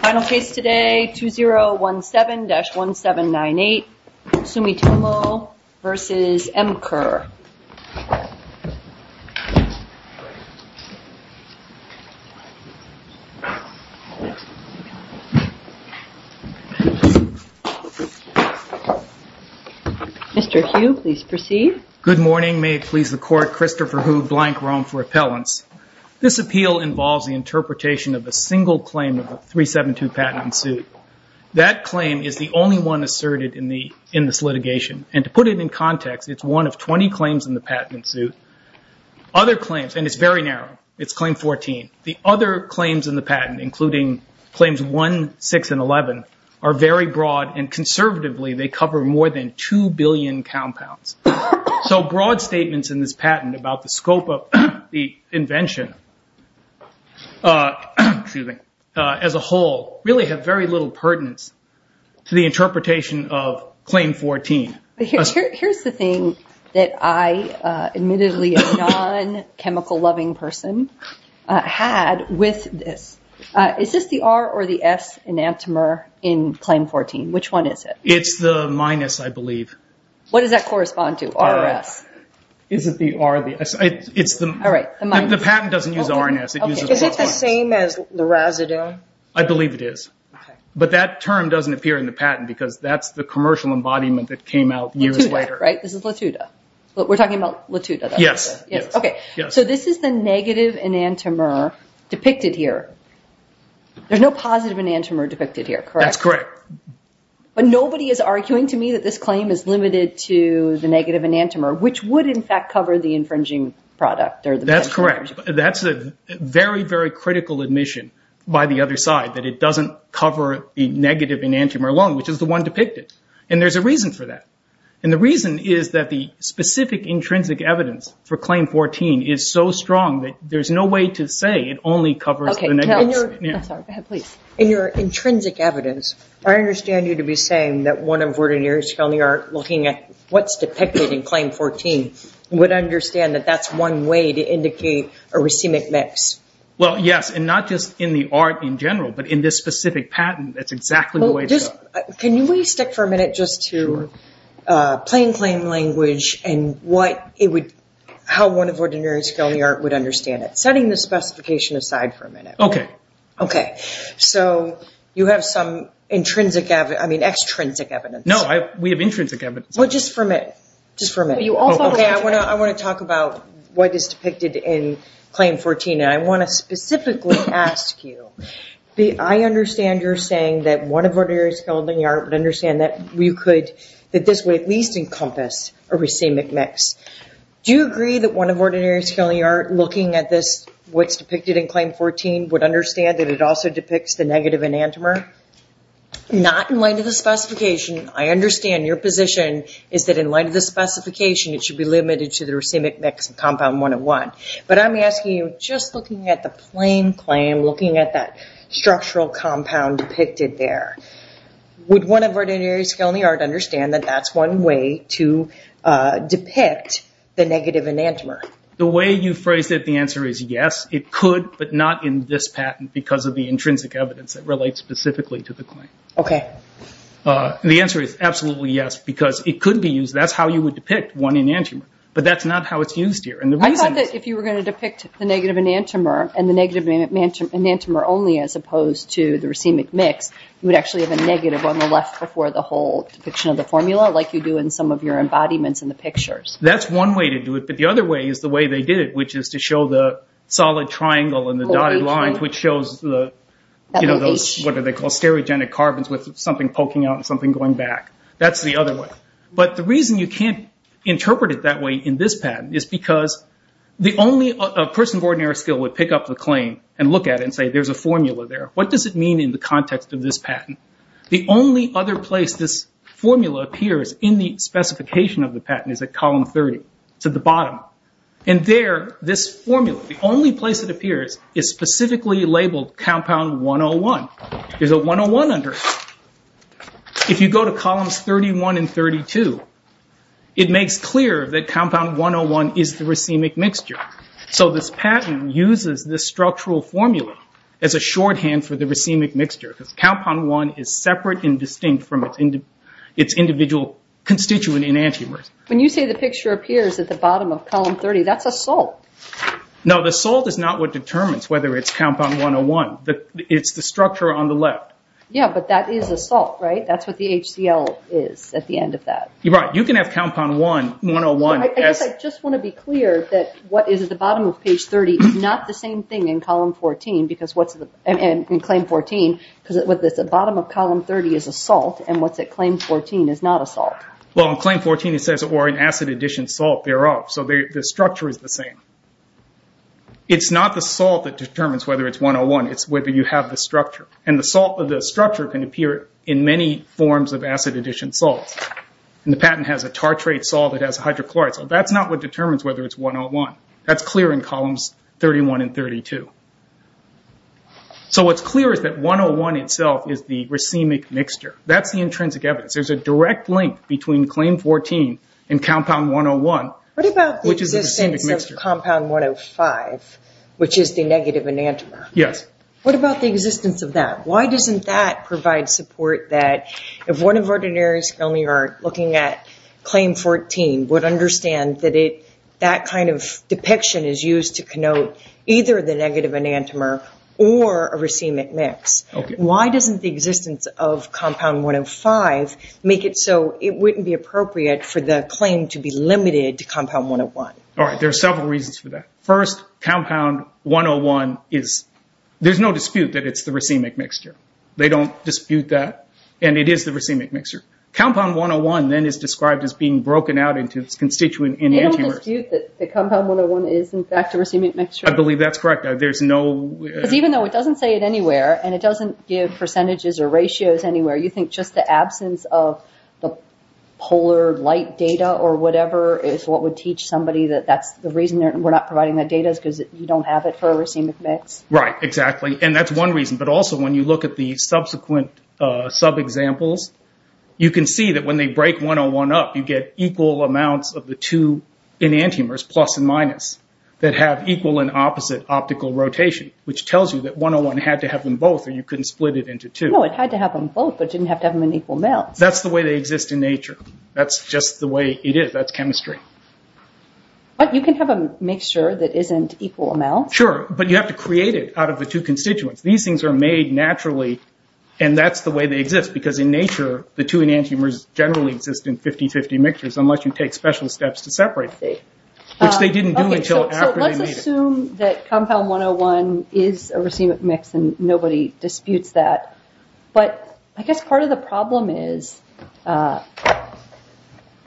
Final case today, 2017-1798 Sumitomo v. Emcure. Mr. Hugh, please proceed. Good morning. May it please the Court, Christopher Hugh, Blank, Rome for Appellants. This appeal involves the interpretation of a single claim of the 372 patent in suit. That claim is the only one asserted in this litigation. And to put it in context, it's one of 20 claims in the patent in suit. Other claims, and it's very narrow, it's Claim 14. The other claims in the patent, including Claims 1, 6, and 11, are very broad. And conservatively, they cover more than 2 billion compounds. So broad statements in this patent about the scope of the invention as a whole really have very little pertinence to the interpretation of Claim 14. Here's the thing that I, admittedly a non-chemical-loving person, had with this. Is this the R or the S enantiomer in Claim 14? Which one is it? It's the minus, I believe. What does that correspond to, R or S? Is it the R or the S? The patent doesn't use R or S. Is it the same as the residue? I believe it is. But that term doesn't appear in the patent because that's the commercial embodiment that came out years later. Latuda, right? This is Latuda. We're talking about Latuda. Yes. So this is the negative enantiomer depicted here. There's no positive enantiomer depicted here, correct? That's correct. But nobody is arguing to me that this claim is limited to the negative enantiomer, which would, in fact, cover the infringing product. That's correct. That's a very, very critical admission by the other side, that it doesn't cover the negative enantiomer alone, which is the one depicted. And there's a reason for that. And the reason is that the specific intrinsic evidence for Claim 14 is so strong that there's no way to say it only covers the negatives. In your intrinsic evidence, I understand you to be saying that one of Ordinary and Scalding Art, looking at what's depicted in Claim 14, would understand that that's one way to indicate a racemic mix. Well, yes, and not just in the art in general, but in this specific patent, that's exactly the way to go. Can we stick for a minute just to plain claim language and how one of Ordinary and Scalding Art would understand it? Setting the specification aside for a minute. Okay. Okay. So you have some extrinsic evidence. No, we have intrinsic evidence. Well, just for a minute. Just for a minute. Okay, I want to talk about what is depicted in Claim 14, and I want to specifically ask you, I understand you're saying that one of Ordinary and Scalding Art would understand that this would at least encompass a racemic mix. Do you agree that one of Ordinary and Scalding Art, looking at what's depicted in Claim 14, would understand that it also depicts the negative enantiomer? Not in light of the specification. I understand your position is that in light of the specification, it should be limited to the racemic mix of Compound 101. But I'm asking you, just looking at the plain claim, looking at that structural compound depicted there, would one of Ordinary and Scalding Art understand that that's one way to depict the negative enantiomer? The way you phrased it, the answer is yes, it could, but not in this patent because of the intrinsic evidence that relates specifically to the claim. Okay. The answer is absolutely yes, because it could be used, that's how you would depict one enantiomer. But that's not how it's used here. I thought that if you were going to depict the negative enantiomer and the negative enantiomer only as opposed to the racemic mix, you would actually have a negative on the left before the whole depiction of the formula like you do in some of your embodiments in the pictures. That's one way to do it. But the other way is the way they did it, which is to show the solid triangle and the dotted lines, which shows those, what are they called, stereogenic carbons with something poking out and something going back. That's the other way. But the reason you can't interpret it that way in this patent is because the only person of ordinary skill would pick up the claim and look at it and say there's a formula there. What does it mean in the context of this patent? The only other place this formula appears in the specification of the column 30 is at the bottom. And there, this formula, the only place it appears is specifically labeled compound 101. There's a 101 under it. If you go to columns 31 and 32, it makes clear that compound 101 is the racemic mixture. So this patent uses this structural formula as a shorthand for the racemic mixture because compound 1 is separate and distinct from its individual constituent enantiomers. When you say the picture appears at the bottom of column 30, that's a salt. No, the salt is not what determines whether it's compound 101. It's the structure on the left. Yeah, but that is a salt, right? That's what the HCL is at the end of that. You're right. You can have compound 101. I guess I just want to be clear that what is at the bottom of page 30 is not the same thing in column 14 because what's in claim 14, because what's at the bottom of column 30 is a salt, and what's at claim 14 is not a salt. Well, in claim 14 it says, or an acid addition salt thereof. So the structure is the same. It's not the salt that determines whether it's 101. It's whether you have the structure, and the structure can appear in many forms of acid addition salts. The patent has a tartrate salt that has hydrochloride, so that's not what determines whether it's 101. That's clear in columns 31 and 32. So what's clear is that 101 itself is the racemic mixture. That's the intrinsic evidence. There's a direct link between claim 14 and compound 101, which is the racemic mixture. What about the existence of compound 105, which is the negative enantiomer? Yes. What about the existence of that? Why doesn't that provide support that if one of our ordinaries only are looking at claim 14 would understand that that kind of depiction is used to connote either the negative enantiomer or a racemic mix. Okay. Why doesn't the existence of compound 105 make it so it wouldn't be appropriate for the claim to be limited to compound 101? All right. There are several reasons for that. First, compound 101 is – there's no dispute that it's the racemic mixture. They don't dispute that, and it is the racemic mixture. Compound 101 then is described as being broken out into its constituent enantiomers. They don't dispute that compound 101 is, in fact, a racemic mixture? I believe that's correct. There's no – Because even though it doesn't say it anywhere and it doesn't give percentages or ratios anywhere, you think just the absence of the polar light data or whatever is what would teach somebody that that's the reason we're not providing that data is because you don't have it for a racemic mix? Right. Exactly. And that's one reason. But also when you look at the subsequent sub-examples, you can see that when they break 101 up, you get equal amounts of the two enantiomers, plus and minus, that have equal and opposite optical rotation, which tells you that 101 had to have them both, or you couldn't split it into two. No, it had to have them both but didn't have to have them in equal amounts. That's the way they exist in nature. That's just the way it is. That's chemistry. But you can have a mixture that isn't equal amounts. Sure, but you have to create it out of the two constituents. These things are made naturally, and that's the way they exist, because in nature the two enantiomers generally exist in 50-50 mixtures unless you take special steps to separate them, which they didn't do until after they made it. So let's assume that compound 101 is a racemic mix, and nobody disputes that. But I guess part of the problem is a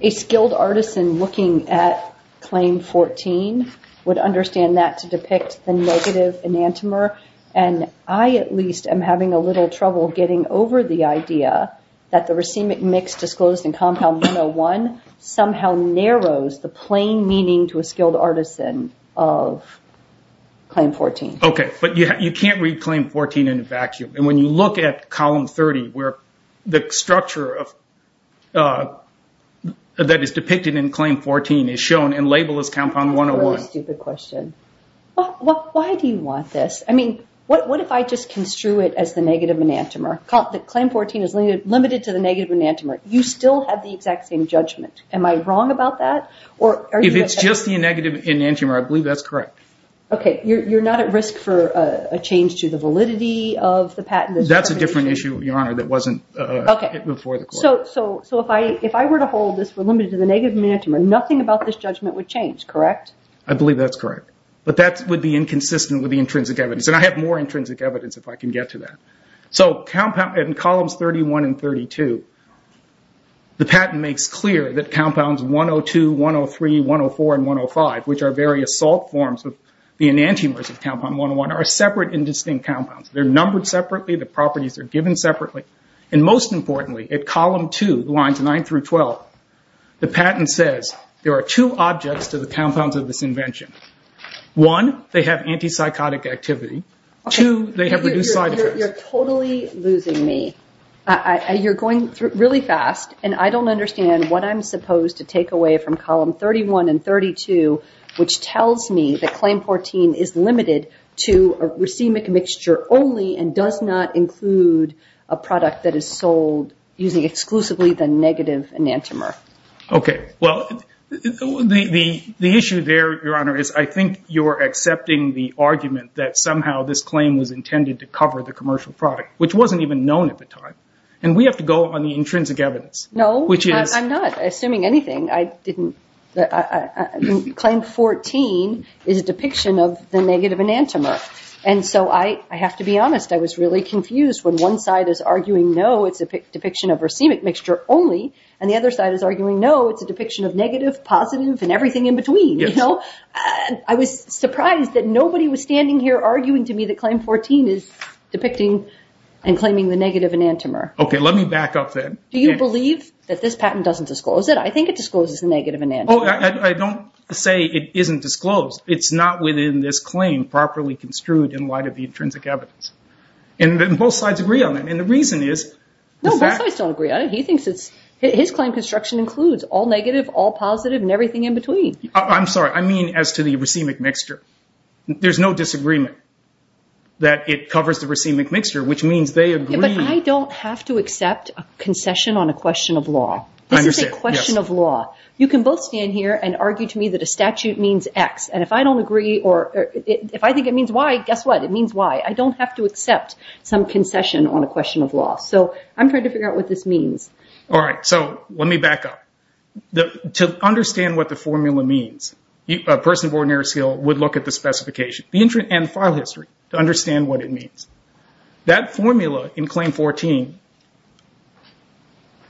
skilled artisan looking at claim 14 would understand that to depict the negative enantiomer, and I at least am having a little trouble getting over the idea that the racemic mix disclosed in compound 101 somehow narrows the plain meaning to a claim 14. Okay, but you can't read claim 14 in a vacuum. When you look at column 30, where the structure that is depicted in claim 14 is shown and labeled as compound 101. That's a really stupid question. Why do you want this? What if I just construe it as the negative enantiomer? Claim 14 is limited to the negative enantiomer. You still have the exact same judgment. Am I wrong about that? If it's just the negative enantiomer, I believe that's correct. Okay, you're not at risk for a change to the validity of the patent? That's a different issue, Your Honor, that wasn't before the court. So if I were to hold this for limited to the negative enantiomer, nothing about this judgment would change, correct? I believe that's correct. But that would be inconsistent with the intrinsic evidence, and I have more intrinsic evidence if I can get to that. So in columns 31 and 32, the patent makes clear that compounds 102, 103, 104, and 105, which are various salt forms of the enantiomers of compound 101, are separate and distinct compounds. They're numbered separately. The properties are given separately. And most importantly, at column 2, lines 9 through 12, the patent says there are two objects to the compounds of this invention. One, they have antipsychotic activity. Two, they have reduced side effects. You're totally losing me. You're going really fast, and I don't understand what I'm supposed to take away from column 31 and 32, which tells me that claim 14 is limited to a racemic mixture only and does not include a product that is sold using exclusively the negative enantiomer. Okay, well, the issue there, Your Honor, is I think you're accepting the argument that somehow this claim was intended to cover the commercial product, which wasn't even known at the time, and we have to go on the intrinsic evidence. No, I'm not assuming anything. Claim 14 is a depiction of the negative enantiomer, and so I have to be honest. I was really confused when one side is arguing, no, it's a depiction of racemic mixture only, and the other side is arguing, no, it's a depiction of negative, positive, and everything in between. I was surprised that nobody was standing here arguing to me that claim 14 is depicting and claiming the negative enantiomer. Okay, let me back up then. Do you believe that this patent doesn't disclose it? I think it discloses the negative enantiomer. I don't say it isn't disclosed. It's not within this claim properly construed in light of the intrinsic evidence, and both sides agree on that, and the reason is the fact that... No, both sides don't agree on it. His claim construction includes all negative, all positive, and everything in between. I'm sorry. I mean as to the racemic mixture. There's no disagreement that it covers the racemic mixture, which means they agree... But I don't have to accept a concession on a question of law. I understand. This is a question of law. You can both stand here and argue to me that a statute means X, and if I don't agree or if I think it means Y, guess what? It means Y. I don't have to accept some concession on a question of law, so I'm trying to figure out what this means. All right, so let me back up. To understand what the formula means, a person of ordinary skill would look at the specification and file history to understand what it means. That formula in Claim 14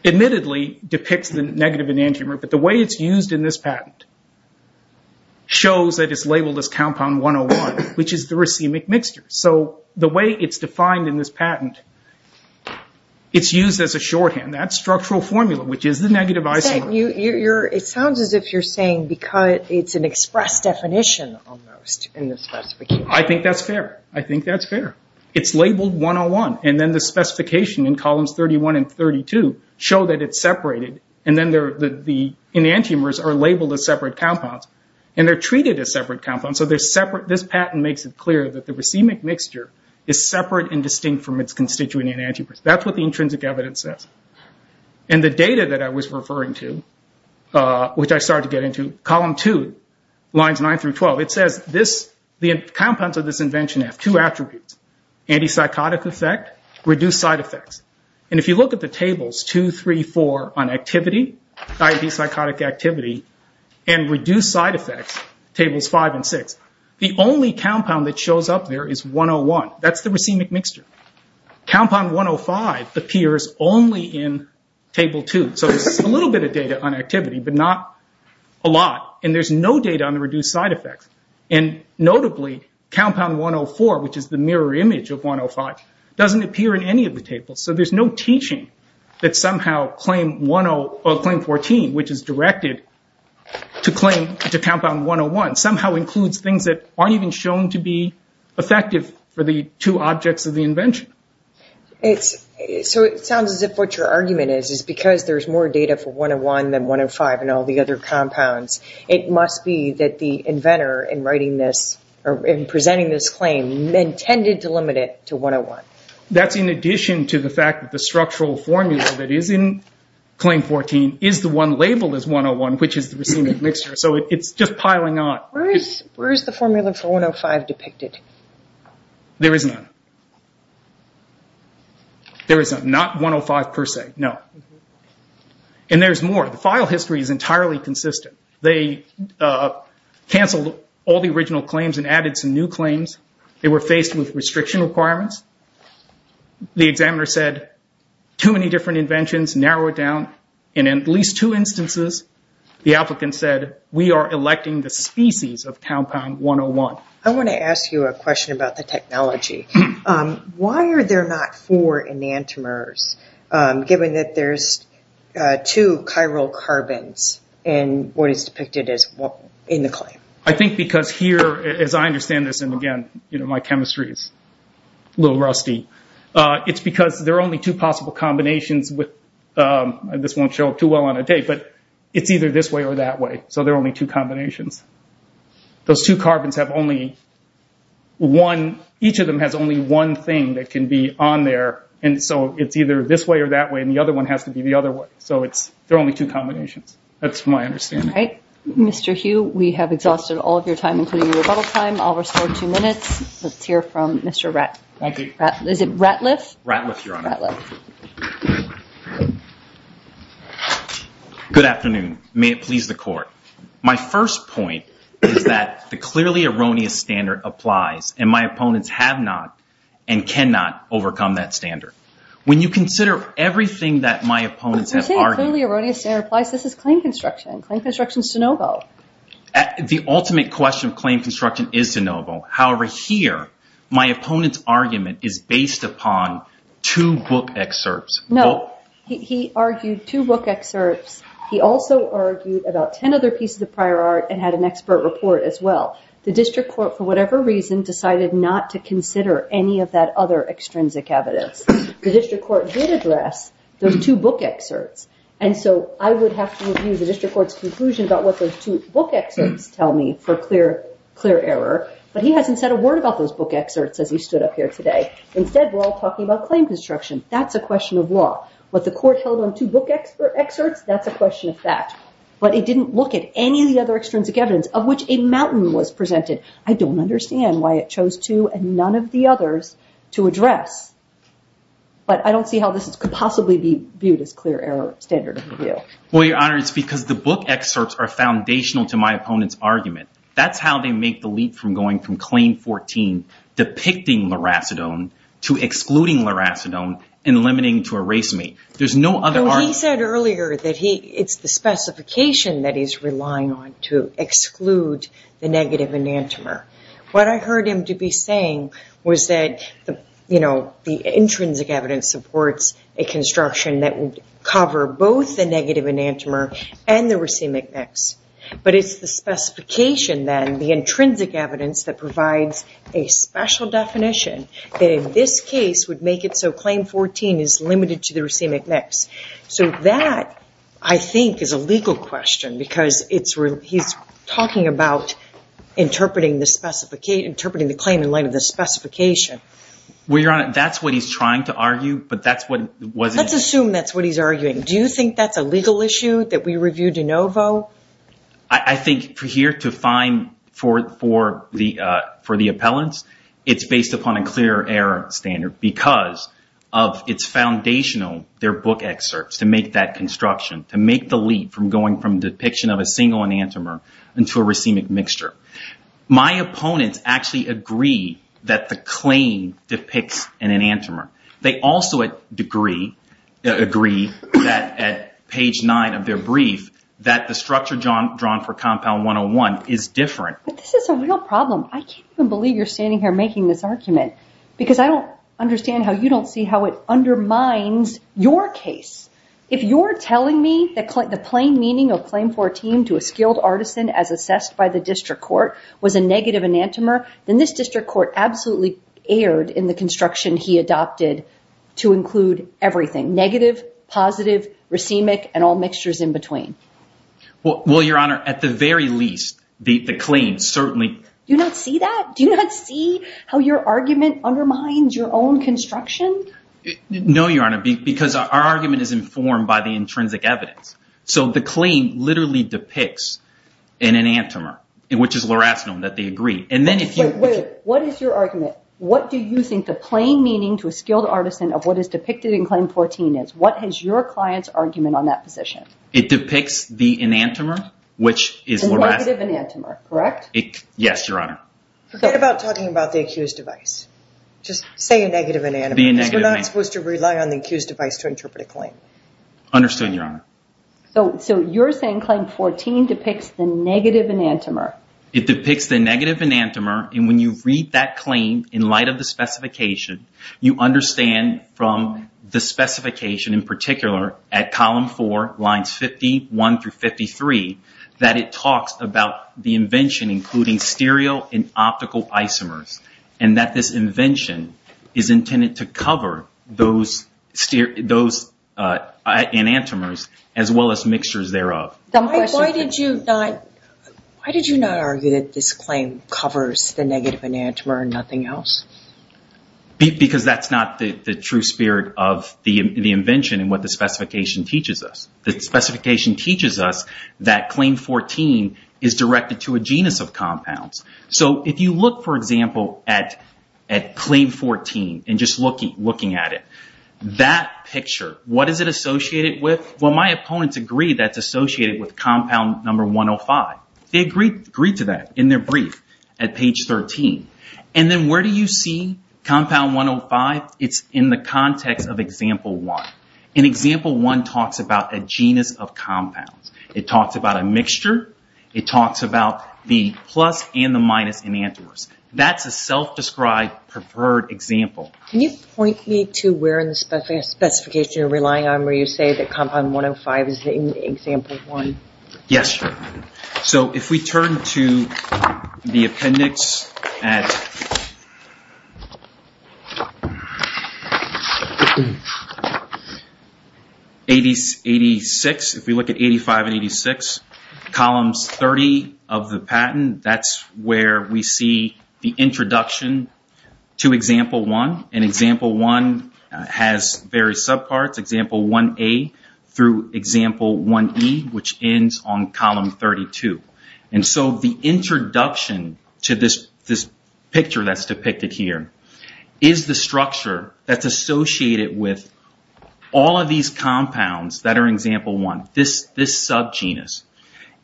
admittedly depicts the negative enantiomer, but the way it's used in this patent shows that it's labeled as compound 101, which is the racemic mixture. So the way it's defined in this patent, it's used as a shorthand. That's structural formula, which is the negative isomer. It sounds as if you're saying it's an express definition, almost, in the specification. I think that's fair. I think that's fair. It's labeled 101, and then the specification in columns 31 and 32 show that it's separated, and then the enantiomers are labeled as separate compounds, and they're treated as separate compounds, so this patent makes it clear that the racemic mixture is separate and distinct from its constituent enantiomers. That's what the intrinsic evidence says. And the data that I was referring to, which I started to get into, column 2, lines 9 through 12, it says the compounds of this invention have two attributes, antipsychotic effect, reduced side effects. And if you look at the tables 2, 3, 4 on activity, antipsychotic activity, and reduced side effects, tables 5 and 6, the only compound that shows up there is 101. That's the racemic mixture. Compound 105 appears only in table 2, so there's a little bit of data on activity but not a lot, and there's no data on the reduced side effects. And notably, compound 104, which is the mirror image of 105, doesn't appear in any of the tables, so there's no teaching that somehow claim 14, which is directed to compound 101, somehow includes things that aren't even shown to be effective for the two objects of the invention. So it sounds as if what your argument is is because there's more data for 101 than 105 in all the other compounds, it must be that the inventor in writing this, or in presenting this claim, intended to limit it to 101. That's in addition to the fact that the structural formula that is in claim 14 is the one labeled as 101, which is the racemic mixture, so it's just piling on. Where is the formula for 105 depicted? There is none. There is none, not 105 per se, no. And there's more. The file history is entirely consistent. They canceled all the original claims and added some new claims. They were faced with restriction requirements. The examiner said, too many different inventions, narrow it down. And in at least two instances, the applicant said, we are electing the species of compound 101. I want to ask you a question about the technology. Why are there not four enantiomers, given that there's two chiral carbons in what is depicted in the claim? I think because here, as I understand this, and, again, my chemistry is a little rusty, it's because there are only two possible combinations. This won't show up too well on a date, but it's either this way or that way. So there are only two combinations. Those two carbons have only one, each of them has only one thing that can be on there, and so it's either this way or that way, and the other one has to be the other way. So there are only two combinations. That's my understanding. All right. Mr. Hugh, we have exhausted all of your time, including your rebuttal time. I'll restore two minutes. Let's hear from Mr. Ratliff. Is it Ratliff? Ratliff, Your Honor. Ratliff. Good afternoon. May it please the Court. My first point is that the clearly erroneous standard applies, and my opponents have not and cannot overcome that standard. When you consider everything that my opponents have argued— When you say the clearly erroneous standard applies, this is claim construction. Claim construction is de novo. The ultimate question of claim construction is de novo. However, here, my opponent's argument is based upon two book excerpts. No. He argued two book excerpts. He also argued about 10 other pieces of prior art and had an expert report as well. The District Court, for whatever reason, decided not to consider any of that other extrinsic evidence. The District Court did address those two book excerpts, and so I would have to review the District Court's conclusion about what those two book excerpts tell me for clear error, but he hasn't said a word about those book excerpts as he stood up here today. Instead, we're all talking about claim construction. That's a question of law. What the court held on two book excerpts, that's a question of fact, but it didn't look at any of the other extrinsic evidence of which a mountain was presented. I don't understand why it chose two and none of the others to address, but I don't see how this could possibly be viewed as clear error standard of review. Well, Your Honor, it's because the book excerpts are foundational to my opponent's argument. That's how they make the leap from going from claim 14, depicting loracidone, to excluding loracidone, and limiting to a racemate. There's no other argument. He said earlier that it's the specification that he's relying on to exclude the negative enantiomer. What I heard him to be saying was that the intrinsic evidence supports a construction that would cover both the negative enantiomer and the racemic mix, but it's the specification then, the intrinsic evidence, that provides a special definition that in this case would make it so claim 14 is limited to the racemic mix. So that, I think, is a legal question because he's talking about interpreting the claim in light of the specification. Well, Your Honor, that's what he's trying to argue, but that's what wasn't... Let's assume that's what he's arguing. I think here to find for the appellants, it's based upon a clear error standard because it's foundational, their book excerpts, to make that construction, to make the leap from going from depiction of a single enantiomer into a racemic mixture. My opponents actually agree that the claim depicts an enantiomer. They also agree that at page 9 of their brief, that the structure drawn for Compound 101 is different. But this is a real problem. I can't even believe you're standing here making this argument because I don't understand how you don't see how it undermines your case. If you're telling me that the plain meaning of claim 14 to a skilled artisan as assessed by the district court was a negative enantiomer, then this district court absolutely erred in the construction he adopted to include everything, negative, positive, racemic, and all mixtures in between. Well, Your Honor, at the very least, the claim certainly... Do you not see that? Do you not see how your argument undermines your own construction? No, Your Honor, because our argument is informed by the intrinsic evidence. So the claim literally depicts an enantiomer, which is loracinone, that they agree. And then if you... Wait, wait. What is your argument? What do you think the plain meaning to a skilled artisan of what is depicted in claim 14 is? What is your client's argument on that position? It depicts the enantiomer, which is loracinone. A negative enantiomer, correct? Yes, Your Honor. Forget about talking about the accused device. Just say a negative enantiomer. Be a negative enantiomer. Because we're not supposed to rely on the accused device to interpret a claim. Understood, Your Honor. So you're saying claim 14 depicts the negative enantiomer. It depicts the negative enantiomer. And when you read that claim in light of the specification, you understand from the specification in particular at column 4, lines 51 through 53, that it talks about the invention, including stereo and optical isomers, and that this invention is intended to cover those enantiomers, as well as mixtures thereof. Why did you not argue that this claim covers the negative enantiomer and nothing else? Because that's not the true spirit of the invention and what the specification teaches us. The specification teaches us that claim 14 is directed to a genus of compounds. So if you look, for example, at claim 14 and just looking at it, that picture, what is it associated with? Well, my opponents agree that it's associated with compound number 105. They agreed to that in their brief at page 13. And then where do you see compound 105? It's in the context of example 1. And example 1 talks about a genus of compounds. It talks about a mixture. It talks about the plus and the minus enantiomers. That's a self-described preferred example. Can you point me to where in the specification you're relying on where you say that compound 105 is in example 1? Yes. So if we turn to the appendix at 85 and 86, columns 30 of the patent, that's where we see the introduction to example 1. And example 1 has various subparts. We have example 1A through example 1E, which ends on column 32. And so the introduction to this picture that's depicted here is the structure that's associated with all of these compounds that are in example 1, this subgenus,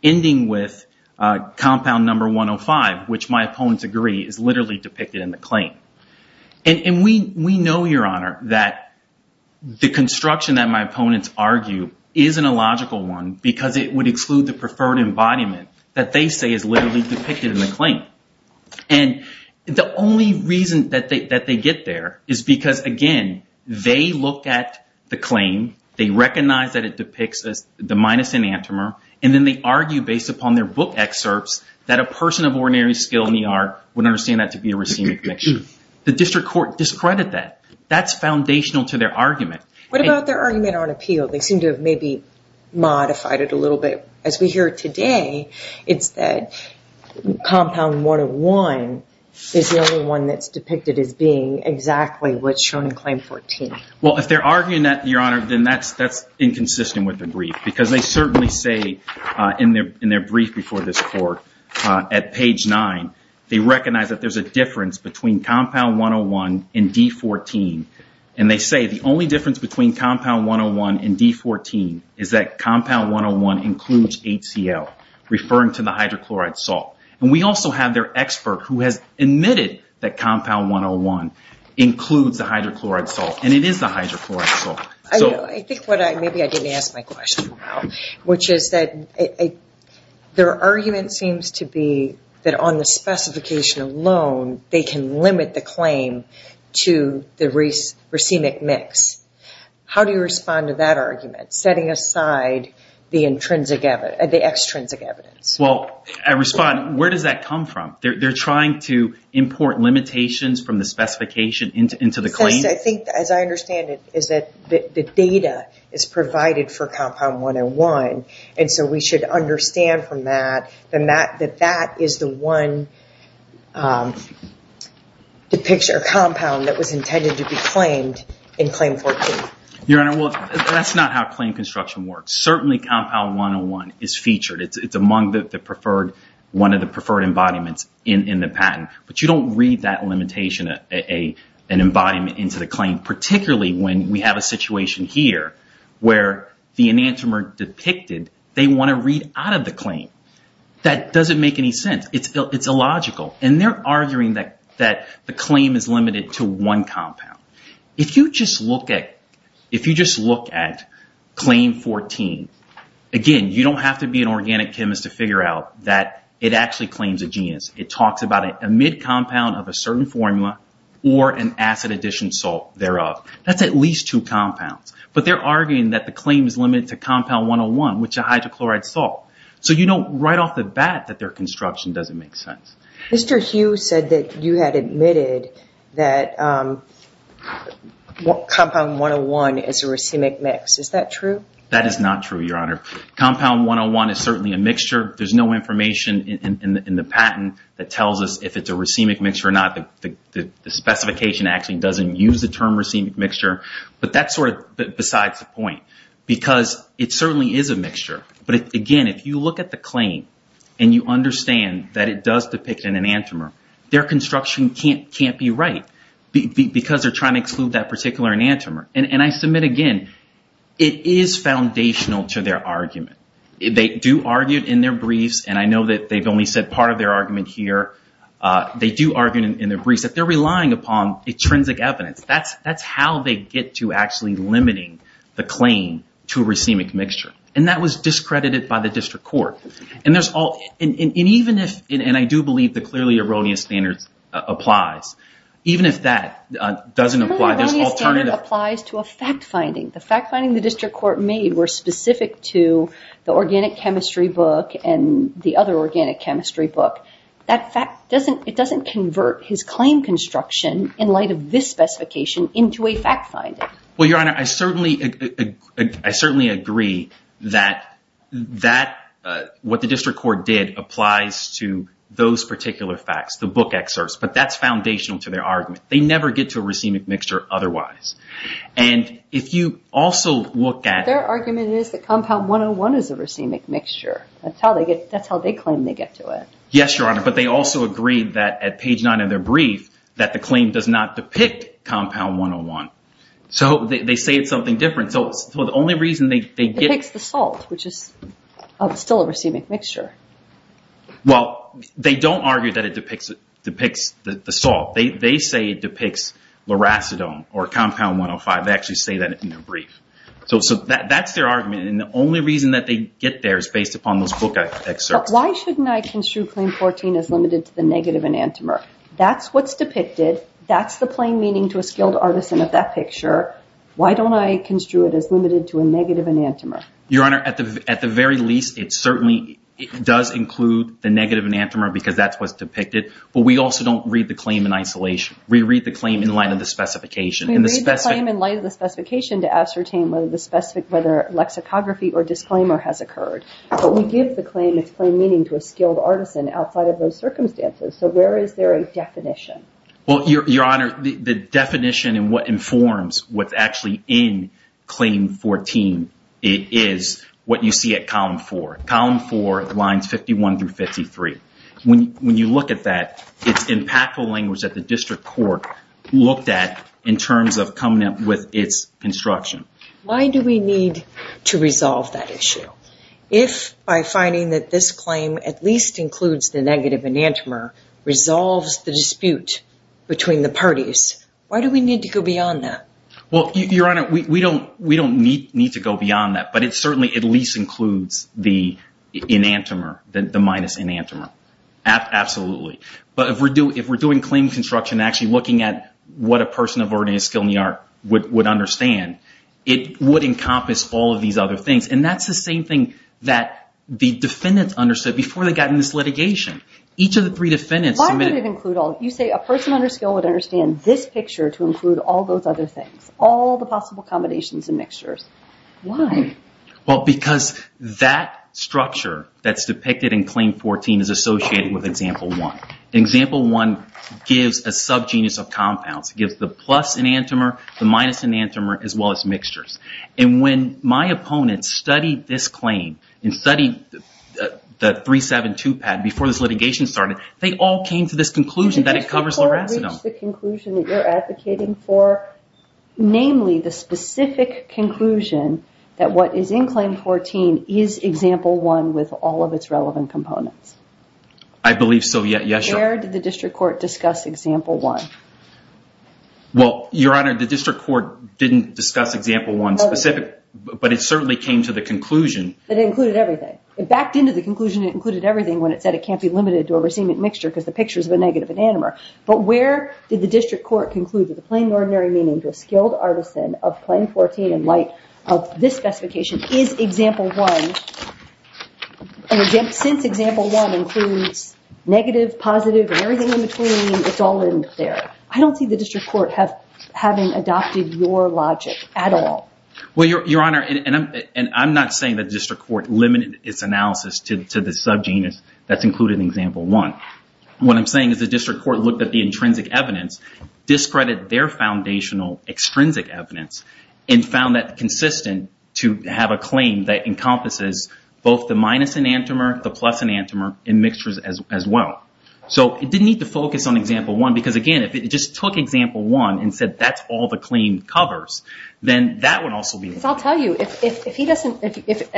ending with compound number 105, which my opponents agree is literally depicted in the claim. And we know, Your Honor, that the construction that my opponents argue isn't a logical one because it would exclude the preferred embodiment that they say is literally depicted in the claim. And the only reason that they get there is because, again, they look at the claim, they recognize that it depicts the minus enantiomer, and then they argue based upon their book excerpts that a person of ordinary skill in the art would understand that to be a racemic mixture. The district court discredited that. That's foundational to their argument. What about their argument on appeal? They seem to have maybe modified it a little bit. As we hear today, it's that compound 101 is the only one that's depicted as being exactly what's shown in claim 14. Well, if they're arguing that, Your Honor, then that's inconsistent with the brief because they certainly say in their brief before this court at page 9, they recognize that there's a difference between compound 101 and D14. And they say the only difference between compound 101 and D14 is that compound 101 includes HCL, referring to the hydrochloride salt. And we also have their expert who has admitted that compound 101 includes the hydrochloride salt, and it is the hydrochloride salt. Maybe I didn't ask my question well, which is that their argument seems to be that on the specification alone, they can limit the claim to the racemic mix. How do you respond to that argument, setting aside the extrinsic evidence? Well, I respond, where does that come from? They're trying to import limitations from the specification into the claim? I think, as I understand it, is that the data is provided for compound 101, and so we should understand from that that that is the one compound that was intended to be claimed in claim 14. Your Honor, well, that's not how claim construction works. Certainly, compound 101 is featured. It's among one of the preferred embodiments in the patent. But you don't read that limitation, an embodiment into the claim, particularly when we have a situation here where the enantiomer depicted, they want to read out of the claim. That doesn't make any sense. It's illogical. And they're arguing that the claim is limited to one compound. If you just look at claim 14, again, you don't have to be an organic chemist to figure out that it actually claims a genus. It talks about a mid-compound of a certain formula or an acid addition salt thereof. That's at least two compounds. But they're arguing that the claim is limited to compound 101, which is hydrochloride salt. So you know right off the bat that their construction doesn't make sense. Mr. Hughes said that you had admitted that compound 101 is a racemic mix. Is that true? That is not true, Your Honor. Compound 101 is certainly a mixture. There's no information in the patent that tells us if it's a racemic mixture or not. The specification actually doesn't use the term racemic mixture. But that's sort of besides the point because it certainly is a mixture. But, again, if you look at the claim and you understand that it does depict an enantiomer, their construction can't be right because they're trying to exclude that particular enantiomer. And I submit again, it is foundational to their argument. They do argue in their briefs, and I know that they've only said part of their argument here. They do argue in their briefs that they're relying upon intrinsic evidence. That's how they get to actually limiting the claim to a racemic mixture. And that was discredited by the district court. And even if, and I do believe the clearly erroneous standard applies, even if that doesn't apply, there's an alternative. The clearly erroneous standard applies to a fact finding. The fact finding the district court made were specific to the organic chemistry book and the other organic chemistry book. That fact, it doesn't convert his claim construction in light of this specification into a fact finding. Well, Your Honor, I certainly agree that what the district court did applies to those particular facts, the book excerpts. But that's foundational to their argument. They never get to a racemic mixture otherwise. And if you also look at- Their argument is that compound 101 is a racemic mixture. That's how they claim they get to it. Yes, Your Honor, but they also agreed that at page nine of their brief that the claim does not depict compound 101. So they say it's something different. So the only reason they get- Depicts the salt, which is still a racemic mixture. Well, they don't argue that it depicts the salt. They say it depicts loracidone or compound 105. They actually say that in their brief. So that's their argument. And the only reason that they get there is based upon those book excerpts. But why shouldn't I construe claim 14 as limited to the negative enantiomer? That's what's depicted. That's the plain meaning to a skilled artisan of that picture. Why don't I construe it as limited to a negative enantiomer? Your Honor, at the very least, it certainly does include the negative enantiomer because that's what's depicted. But we also don't read the claim in isolation. We read the claim in light of the specification. We read the claim in light of the specification to ascertain whether lexicography or disclaimer has occurred. But we give the claim its plain meaning to a skilled artisan outside of those circumstances. So where is there a definition? Well, Your Honor, the definition and what informs what's actually in claim 14 is what you see at column four. Column four, lines 51 through 53. When you look at that, it's impactful language that the district court looked at in terms of coming up with its construction. Why do we need to resolve that issue? If by finding that this claim at least includes the negative enantiomer resolves the dispute between the parties, why do we need to go beyond that? Well, Your Honor, we don't need to go beyond that. But it certainly at least includes the enantiomer, the minus enantiomer. Absolutely. But if we're doing claim construction, actually looking at what a person of ordinary skill in the art would understand, it would encompass all of these other things. And that's the same thing that the defendants understood before they got in this litigation. Each of the three defendants submitted… Why would it include all? You say a person under skill would understand this picture to include all those other things, all the possible combinations and mixtures. Why? Well, because that structure that's depicted in Claim 14 is associated with Example 1. Example 1 gives a subgenus of compounds. It gives the plus enantiomer, the minus enantiomer, as well as mixtures. And when my opponents studied this claim and studied the 372 patent before this litigation started, they all came to this conclusion that it covers loracidum. Did the court reach the conclusion that you're advocating for, namely the specific conclusion that what is in Claim 14 is Example 1 with all of its relevant components? I believe so, yes, Your Honor. Where did the district court discuss Example 1? Well, Your Honor, the district court didn't discuss Example 1 specific, but it certainly came to the conclusion… It included everything. It backed into the conclusion it included everything when it said it can't be limited to a racemic mixture because the picture is of a negative enantiomer. But where did the district court conclude that the plain and ordinary meaning to a skilled artisan of Claim 14 in light of this specification is Example 1, and since Example 1 includes negative, positive, and everything in between, it's all in there. I don't see the district court having adopted your logic at all. Well, Your Honor, and I'm not saying the district court limited its analysis to the subgenus that's included in Example 1. What I'm saying is the district court looked at the intrinsic evidence, discredited their foundational extrinsic evidence, and found that consistent to have a claim that encompasses both the minus enantiomer, the plus enantiomer, and mixtures as well. So it didn't need to focus on Example 1 because, again, if it just took Example 1 and said that's all the claim covers, then that would also be… I'll tell you, if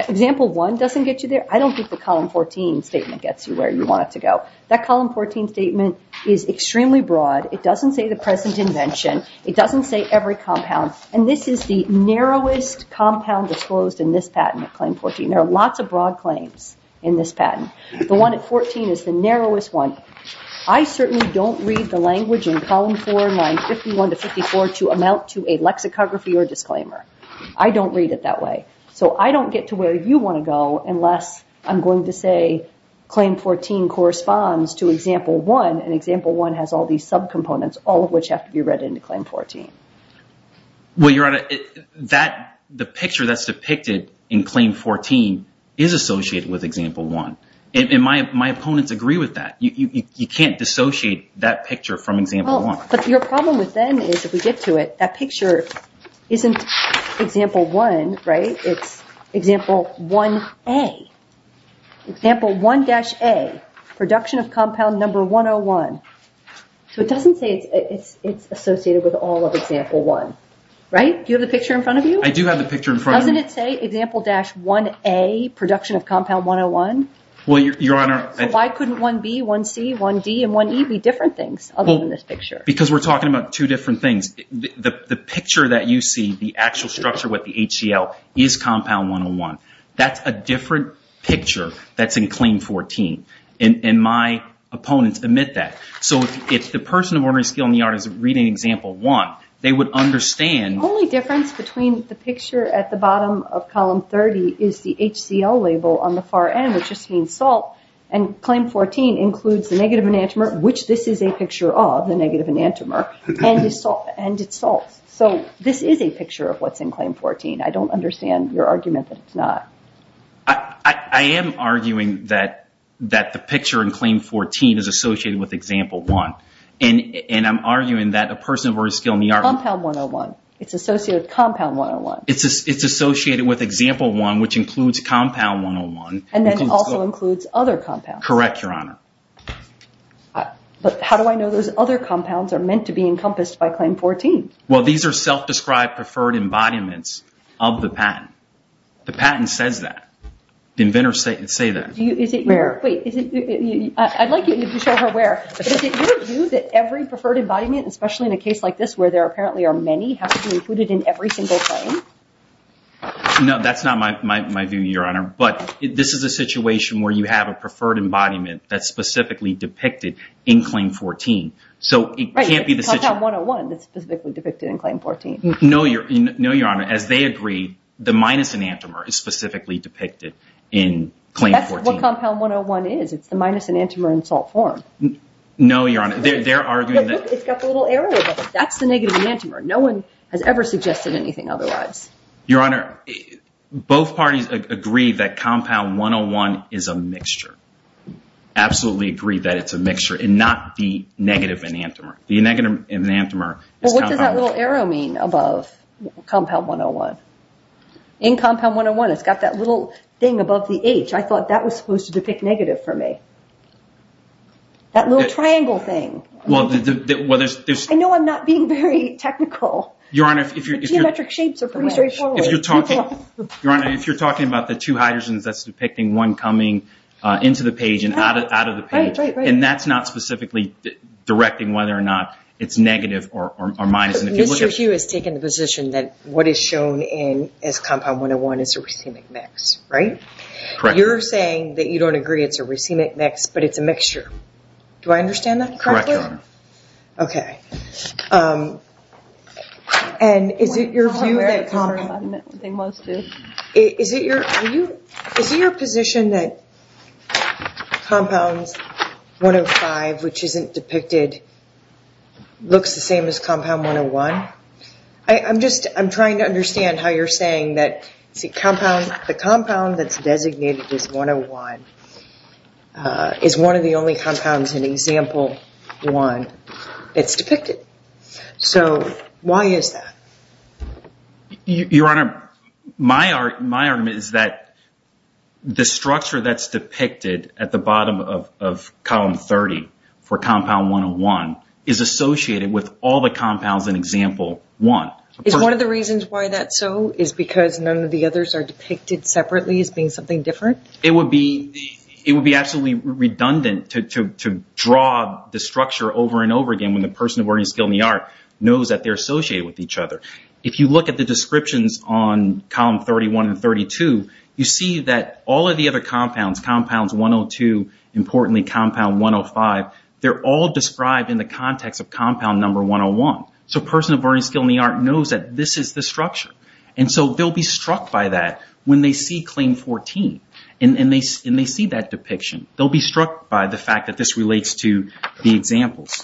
Example 1 doesn't get you there, I don't think the Column 14 statement gets you where you want it to go. That Column 14 statement is extremely broad. It doesn't say the present invention. It doesn't say every compound, and this is the narrowest compound disclosed in this patent at Claim 14. There are lots of broad claims in this patent. The one at 14 is the narrowest one. I certainly don't read the language in Column 4, lines 51 to 54 to amount to a lexicography or disclaimer. I don't read it that way, so I don't get to where you want to go unless I'm going to say Claim 14 corresponds to Example 1, and Example 1 has all these subcomponents, all of which have to be read into Claim 14. Well, Your Honor, the picture that's depicted in Claim 14 is associated with Example 1, and my opponents agree with that. You can't dissociate that picture from Example 1. But your problem with then is if we get to it, that picture isn't Example 1, right? It's Example 1A. Example 1-A, production of compound number 101. So it doesn't say it's associated with all of Example 1, right? Do you have the picture in front of you? I do have the picture in front of me. Doesn't it say Example-1A, production of compound 101? Well, Your Honor... Why couldn't 1B, 1C, 1D, and 1E be different things other than this picture? Because we're talking about two different things. The picture that you see, the actual structure with the HCL, is compound 101. That's a different picture that's in Claim 14, and my opponents admit that. So if the person of ordinary skill in the yard is reading Example 1, they would understand... The only difference between the picture at the bottom of Column 30 is the HCL label on the far end, which just means salt, and Claim 14 includes the negative enantiomer, which this is a picture of, the negative enantiomer, and it's salt. So this is a picture of what's in Claim 14. I don't understand your argument that it's not. I am arguing that the picture in Claim 14 is associated with Example 1, and I'm arguing that a person of ordinary skill in the yard... Compound 101. It's associated with Compound 101. It's associated with Example 1, which includes Compound 101. And that also includes other compounds. Correct, Your Honor. But how do I know those other compounds are meant to be encompassed by Claim 14? Well, these are self-described preferred embodiments of the patent. The patent says that. The inventors say that. Wait. I'd like you to show her where. But is it your view that every preferred embodiment, especially in a case like this where there apparently are many, has to be included in every single claim? No, that's not my view, Your Honor. But this is a situation where you have a preferred embodiment that's specifically depicted in Claim 14. So it can't be the situation... Right, it's Compound 101 that's specifically depicted in Claim 14. No, Your Honor. As they agree, the minus enantiomer is specifically depicted in Claim 14. That's what Compound 101 is. It's the minus enantiomer in salt form. No, Your Honor. They're arguing that... Look, it's got the little arrow above it. That's the negative enantiomer. No one has ever suggested anything otherwise. Your Honor, both parties agree that Compound 101 is a mixture. Absolutely agree that it's a mixture and not the negative enantiomer. The negative enantiomer is Compound 101. Well, what does that little arrow mean above Compound 101? In Compound 101, it's got that little thing above the H. I thought that was supposed to depict negative for me. That little triangle thing. I know I'm not being very technical. Your Honor, if you're... The geometric shapes are pretty straightforward. Your Honor, if you're talking about the two hydrogens, that's depicting one coming into the page and out of the page. Right, right, right. And that's not specifically directing whether or not it's negative or minus. Mr. Hugh has taken the position that what is shown as Compound 101 is a racemic mix, right? Correct. You're saying that you don't agree it's a racemic mix, but it's a mixture. Do I understand that correctly? Correct, Your Honor. Okay. And is it your view that Compound... Is it your position that Compound 105, which isn't depicted, looks the same as Compound 101? I'm just trying to understand how you're saying that the compound that's designated as 101 is one of the only compounds in Example 1. It's depicted. So why is that? Your Honor, my argument is that the structure that's depicted at the bottom of Column 30 for Compound 101 is associated with all the compounds in Example 1. Is one of the reasons why that's so is because none of the others are depicted separately as being something different? It would be absolutely redundant to draw the structure over and over again when the person of learning skill in the art knows that they're associated with each other. If you look at the descriptions on Column 31 and 32, you see that all of the other compounds, Compounds 102, importantly Compound 105, they're all described in the context of Compound number 101. So a person of learning skill in the art knows that this is the structure. And so they'll be struck by that when they see Claim 14. And they see that depiction. They'll be struck by the fact that this relates to the examples.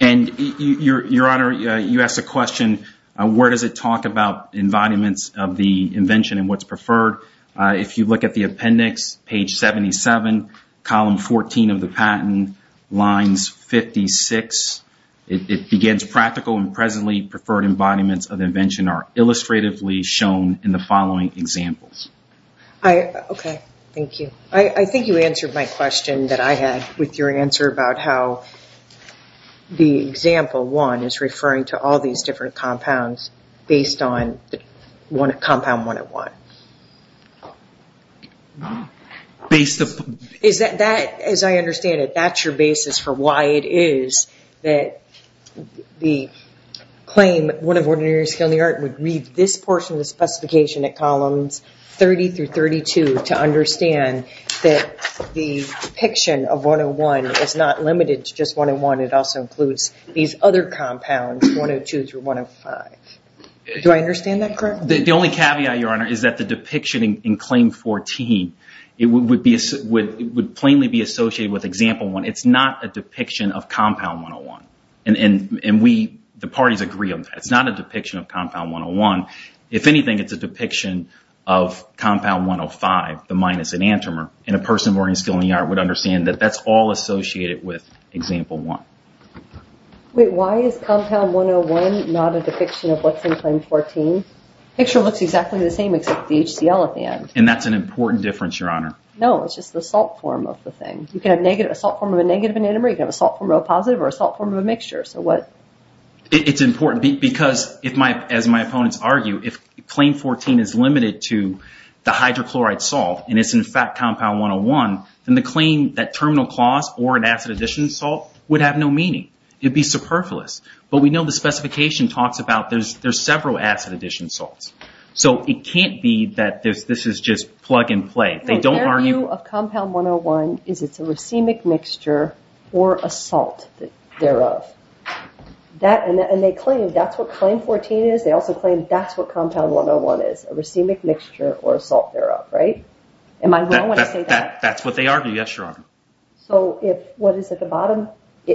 And, Your Honor, you asked a question, where does it talk about embodiments of the invention and what's preferred? If you look at the appendix, Page 77, Column 14 of the patent, Lines 56, it begins, Practical and presently preferred embodiments of invention are illustratively shown in the following examples. Okay. Thank you. I think you answered my question that I had with your answer about how the Example 1 is referring to all these different compounds based on Compound 101. Based upon... Is that, as I understand it, that's your basis for why it is that the claim, one of ordinary skill in the art would read this portion of the specification at Columns 30 through 32 to understand that the depiction of 101 is not limited to just 101. It also includes these other compounds, 102 through 105. Do I understand that correctly? The only caveat, Your Honor, is that the depiction in Claim 14 would plainly be associated with Example 1. It's not a depiction of Compound 101, and the parties agree on that. It's not a depiction of Compound 101. If anything, it's a depiction of Compound 105, the minus enantiomer, and a person of ordinary skill in the art would understand that that's all associated with Example 1. Wait, why is Compound 101 not a depiction of what's in Claim 14? The picture looks exactly the same except the HCL at the end. And that's an important difference, Your Honor. No, it's just the salt form of the thing. You can have a salt form of a negative enantiomer, you can have a salt form of a positive, or a salt form of a mixture. So what... It's important because, as my opponents argue, if Claim 14 is limited to the hydrochloride salt and it's in fact Compound 101, then the claim that terminal clause or an acid addition salt would have no meaning. It would be superfluous. But we know the specification talks about there's several acid addition salts. So it can't be that this is just plug and play. They don't argue... Their view of Compound 101 is it's a racemic mixture or a salt thereof. And they claim that's what Claim 14 is. They also claim that's what Compound 101 is, a racemic mixture or a salt thereof, right? Am I wrong when I say that? That's what they argue. Yes, Your Honor. So if what is at the bottom...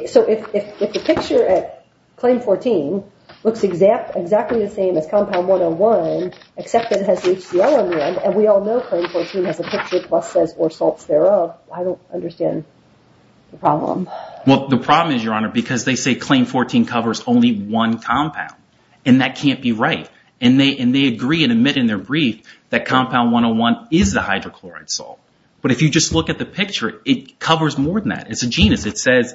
So if the picture at Claim 14 looks exactly the same as Compound 101, except that it has the HCL in the end, and we all know Claim 14 has a picture plus says or salts thereof, I don't understand the problem. Well, the problem is, Your Honor, because they say Claim 14 covers only one compound. And that can't be right. And they agree and admit in their brief that Compound 101 is the hydrochloride salt. But if you just look at the picture, it covers more than that. It's a genus. It says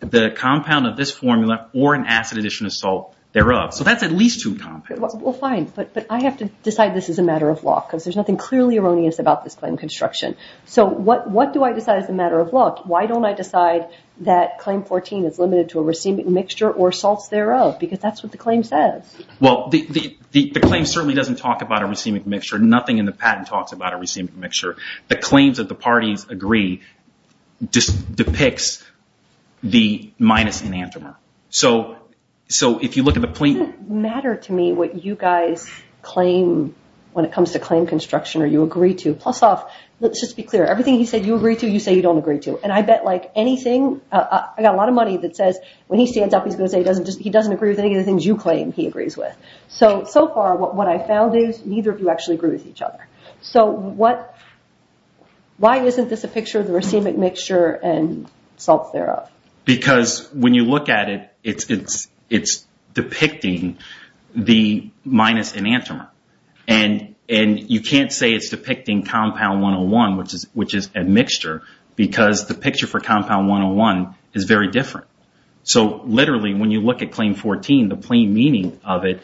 the compound of this formula or an acid addition of salt thereof. So that's at least two compounds. Well, fine, but I have to decide this is a matter of law because there's nothing clearly erroneous about this claim construction. So what do I decide is a matter of law? Why don't I decide that Claim 14 is limited to a racemic mixture or salts thereof because that's what the claim says? Well, the claim certainly doesn't talk about a racemic mixture. Nothing in the patent talks about a racemic mixture. The claims that the parties agree just depicts the minus anathema. So if you look at the plaintiff. It doesn't matter to me what you guys claim when it comes to claim construction or you agree to. Plus off, let's just be clear. Everything he said you agree to, you say you don't agree to. And I bet, like, anything, I got a lot of money that says when he stands up, he's going to say he doesn't agree with any of the things you claim he agrees with. So, so far, what I've found is neither of you actually agree with each other. So why isn't this a picture of the racemic mixture and salts thereof? Because when you look at it, it's depicting the minus anathema. And you can't say it's depicting compound 101, which is a mixture, because the picture for compound 101 is very different. So literally, when you look at Claim 14, the plain meaning of it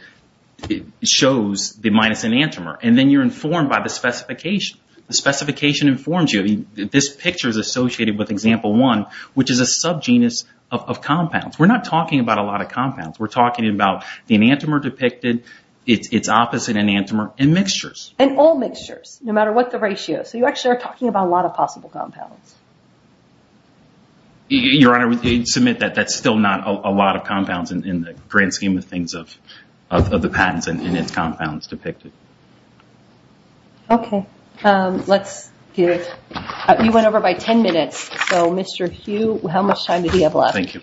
shows the minus anathema. And then you're informed by the specification. The specification informs you. This picture is associated with example one, which is a subgenus of compounds. We're not talking about a lot of compounds. We're talking about the anathema depicted, its opposite anathema, and mixtures. And all mixtures, no matter what the ratio. So you actually are talking about a lot of possible compounds. And in the grand scheme of things of the patents and its compounds depicted. Okay. Let's get it. You went over by ten minutes. So, Mr. Hugh, how much time do we have left? Thank you.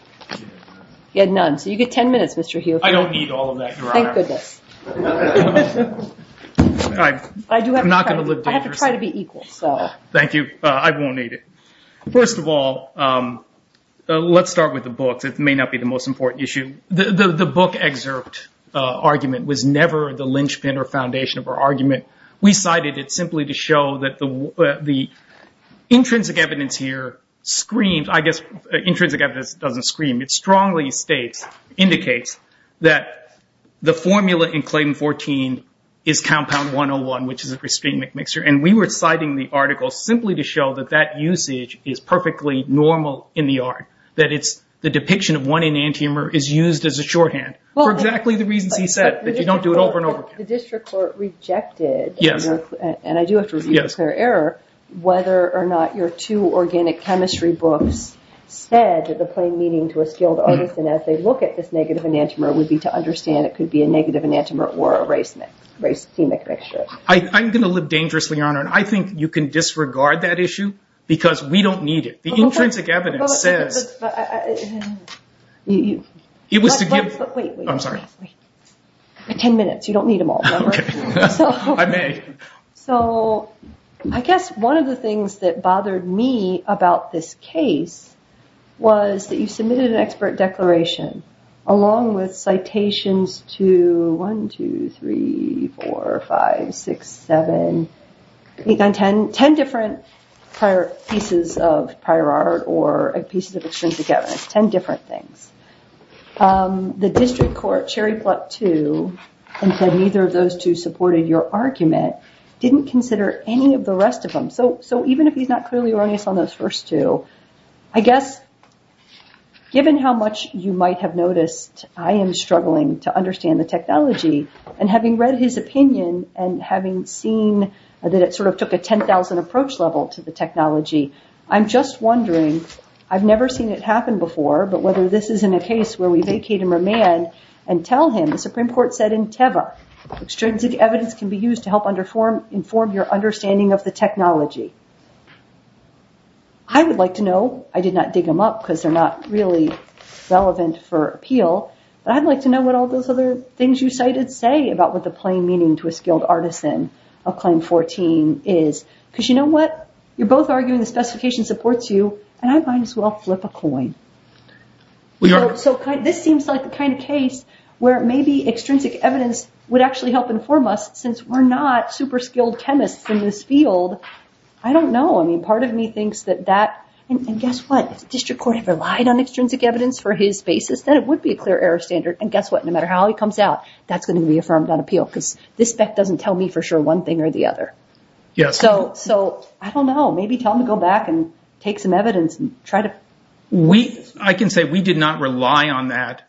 You had none. So you get ten minutes, Mr. Hugh. I don't need all of that. Thank goodness. I'm not going to live dangerously. I have to try to be equal. Thank you. I won't need it. First of all, let's start with the books. It may not be the most important issue. The book excerpt argument was never the linchpin or foundation of our argument. We cited it simply to show that the intrinsic evidence here screams. I guess intrinsic evidence doesn't scream. It strongly states, indicates, that the formula in Clayton-14 is compound 101, which is a pristine mixture. And we were citing the article simply to show that that usage is perfectly normal in the art. That the depiction of one enantiomer is used as a shorthand for exactly the reasons he said, that you don't do it over and over again. The district court rejected, and I do have to review the clear error, whether or not your two organic chemistry books said the plain meaning to a skilled artist and as they look at this negative enantiomer would be to understand it could be a negative enantiomer or a racemic mixture. I'm going to live dangerously, Your Honor, and I think you can disregard that issue because we don't need it. The intrinsic evidence says... It was to give... Wait, wait. I'm sorry. Ten minutes. You don't need them all. Okay. I may. So I guess one of the things that bothered me about this case was that you submitted an expert declaration along with citations to one, two, three, four, five, six, seven, eight, nine, ten. Ten different pieces of prior art or pieces of extrinsic evidence. Ten different things. The district court, cherry plucked two and said neither of those two supported your argument, didn't consider any of the rest of them. So even if he's not clearly erroneous on those first two, I guess given how much you might have noticed I am struggling to understand the technology and having read his opinion and having seen that it sort of took a 10,000 approach level to the technology, I'm just wondering, I've never seen it happen before, but whether this is in a case where we vacate him or man and tell him, the Supreme Court said in Teva, extrinsic evidence can be used to help inform your understanding of the technology. I would like to know, I did not dig them up because they're not really relevant for appeal, but I'd like to know what all those other things you cited say about what the plain meaning to a skilled artisan of claim 14 is. Because you know what? You're both arguing the specification supports you and I might as well flip a coin. So this seems like the kind of case where maybe extrinsic evidence would actually help inform us since we're not super skilled chemists in this field. I don't know. I mean, part of me thinks that that, and guess what? If the district court had relied on extrinsic evidence for his basis, then it would be a clear error standard. And guess what? No matter how he comes out, that's going to be affirmed on appeal. Because this bet doesn't tell me for sure one thing or the other. Yes. So I don't know. Maybe tell him to go back and take some evidence and try to. I can say we did not rely on that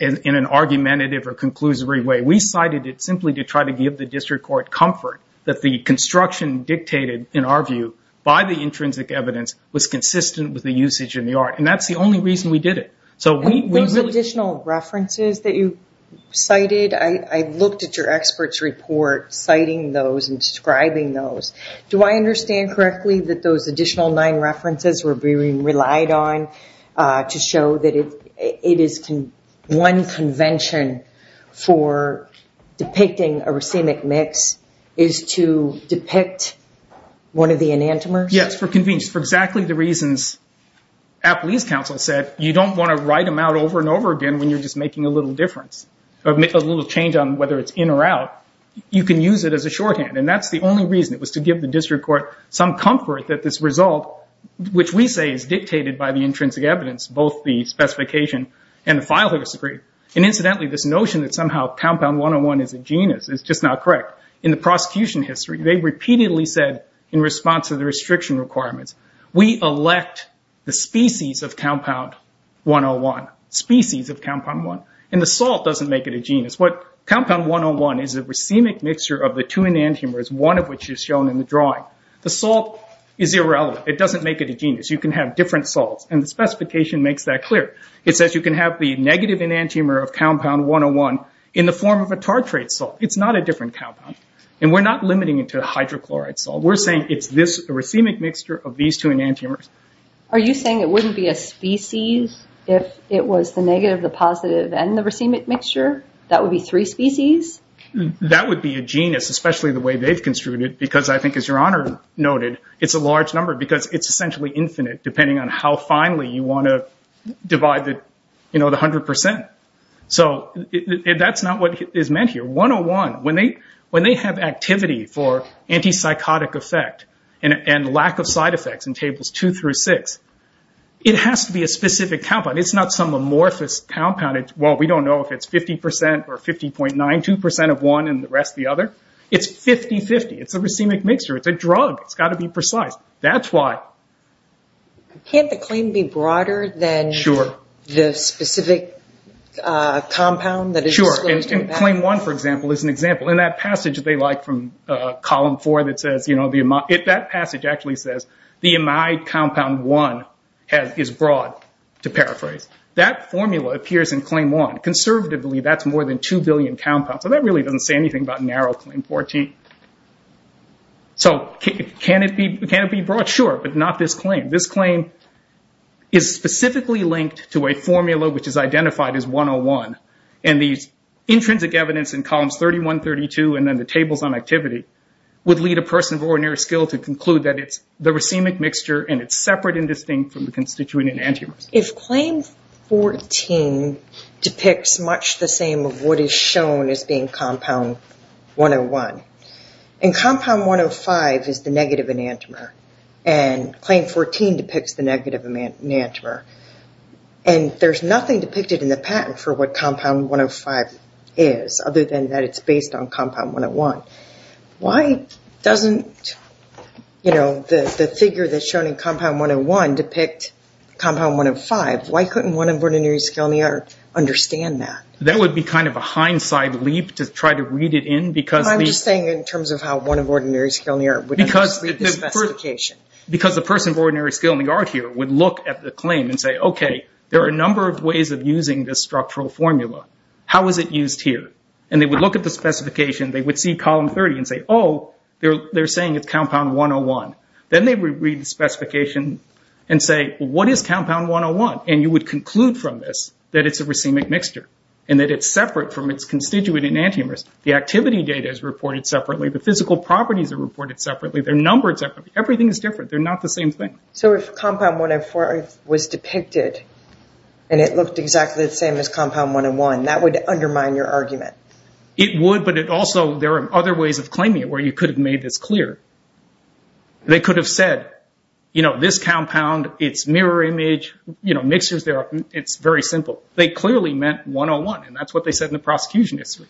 in an argumentative or conclusory way. We cited it simply to try to give the district court comfort that the construction dictated, in our view, by the intrinsic evidence was consistent with the usage in the art. And that's the only reason we did it. Those additional references that you cited, I looked at your expert's report citing those and describing those. Do I understand correctly that those additional nine references were relied on to show that it is one convention for depicting a racemic mix is to depict one of the enantiomers? Yes, for convenience. For exactly the reasons Appley's counsel said, you don't want to write them out over and over again when you're just making a little difference, a little change on whether it's in or out. You can use it as a shorthand. And that's the only reason. It was to give the district court some comfort that this result, which we say is dictated by the intrinsic evidence, both the specification and the file that was agreed. And incidentally, this notion that somehow compound 101 is a genus is just not correct. In the prosecution history, they repeatedly said in response to the restriction requirements, we elect the species of compound 101. Species of compound one. And the salt doesn't make it a genus. Compound 101 is a racemic mixture of the two enantiomers, one of which is shown in the drawing. The salt is irrelevant. It doesn't make it a genus. You can have different salts. And the specification makes that clear. It says you can have the negative enantiomer of compound 101 in the form of a tartrate salt. It's not a different compound. And we're not limiting it to hydrochloride salt. We're saying it's this racemic mixture of these two enantiomers. Are you saying it wouldn't be a species if it was the negative, the positive, and the racemic mixture? That would be three species? That would be a genus, especially the way they've construed it, because I think, as Your Honor noted, it's a large number because it's essentially infinite, depending on how finely you want to divide the 100%. So that's not what is meant here. 101, when they have activity for antipsychotic effect and lack of side effects in tables two through six, it has to be a specific compound. It's not some amorphous compound. Well, we don't know if it's 50% or 50.92% of one and the rest the other. It's 50-50. It's a racemic mixture. It's a drug. It's got to be precise. That's why. Can't the claim be broader than the specific compound that is disclosed? Sure. Claim one, for example, is an example. In that passage they like from column four, that passage actually says, the amide compound one is broad, to paraphrase. That formula appears in claim one. Conservatively, that's more than two billion compounds. So that really doesn't say anything about narrow claim 14. So can it be broad? Sure. But not this claim. This claim is specifically linked to a formula which is identified as 101, and these intrinsic evidence in columns 31, 32, and then the tables on activity, would lead a person of ordinary skill to conclude that it's the racemic mixture and it's separate and distinct from the constituent antivirus. If claim 14 depicts much the same of what is shown as being compound 101, and compound 105 is the negative enantiomer, and claim 14 depicts the negative enantiomer, and there's nothing depicted in the patent for what compound 105 is, other than that it's based on compound 101, why doesn't the figure that's shown in compound 101 depict compound 105? Why couldn't one of ordinary skill in the art understand that? That would be kind of a hindsight leap to try to read it in. I'm just saying in terms of how one of ordinary skill in the art would read the specification. Because the person of ordinary skill in the art here would look at the claim and say, okay, there are a number of ways of using this structural formula. How is it used here? And they would look at the specification. They would see column 30 and say, oh, they're saying it's compound 101. Then they would read the specification and say, what is compound 101? And you would conclude from this that it's a racemic mixture and that it's separate from its constituent enantiomers. The activity data is reported separately. The physical properties are reported separately. They're numbered separately. Everything is different. They're not the same thing. So if compound 104 was depicted and it looked exactly the same as compound 101, that would undermine your argument. It would, but also there are other ways of claiming it where you could have made this clear. They could have said, you know, this compound, its mirror image, you know, mixtures, it's very simple. They clearly meant 101, and that's what they said in the prosecution history.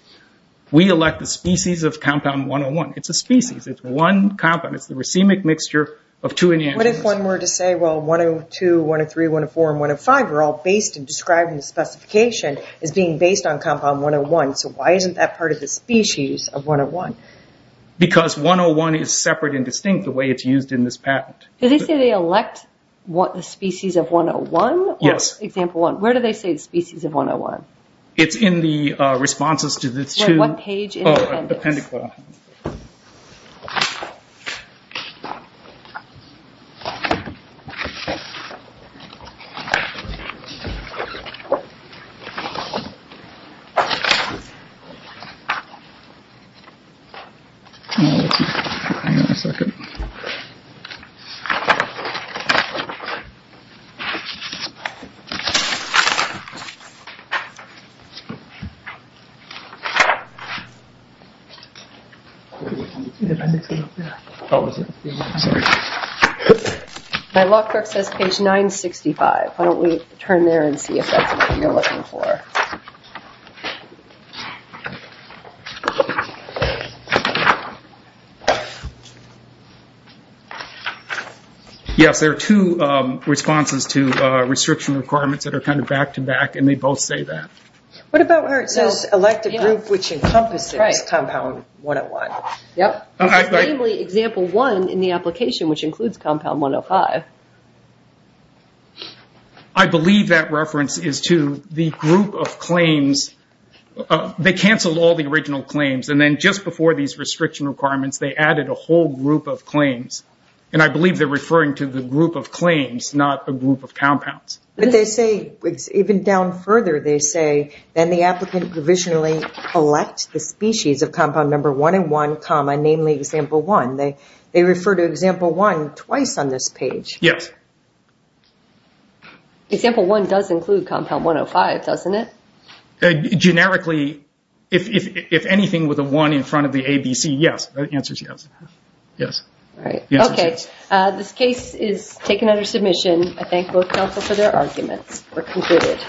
We elect the species of compound 101. It's a species. It's one compound. It's the racemic mixture of two enantiomers. What if one were to say, well, 102, 103, 104, and 105 are all based in describing the specification as being based on compound 101, so why isn't that part of the species of 101? Because 101 is separate and distinct the way it's used in this patent. Did they say they elect the species of 101? Yes. Example one, where do they say the species of 101? It's in the responses to the two... Wait, what page in the appendix? Oh, appendix. Hold on. Hang on a second. The appendix is up there. Oh, is it? Yeah. Sorry. My law clerk says page 965. Why don't we turn there and see if that's what you're looking for. Yes, there are two responses to restriction requirements that are kind of back-to-back, and they both say that. What about where it says elect a group which encompasses compound 101? It's namely example one in the application, which includes compound 105. I believe that reference is to the group of claims. They canceled all the original claims, and then just before these restriction requirements, they added a whole group of claims, and I believe they're referring to the group of claims, not a group of compounds. But they say, even down further, they say then the applicant provisionally elect the species of compound number 101, namely example one. They refer to example one twice on this page. Yes. Example one does include compound 105, doesn't it? Generically, if anything, with a one in front of the ABC, yes. The answer is yes. Yes. All right. Okay. This case is taken under submission. I thank both counsel for their arguments. We're concluded.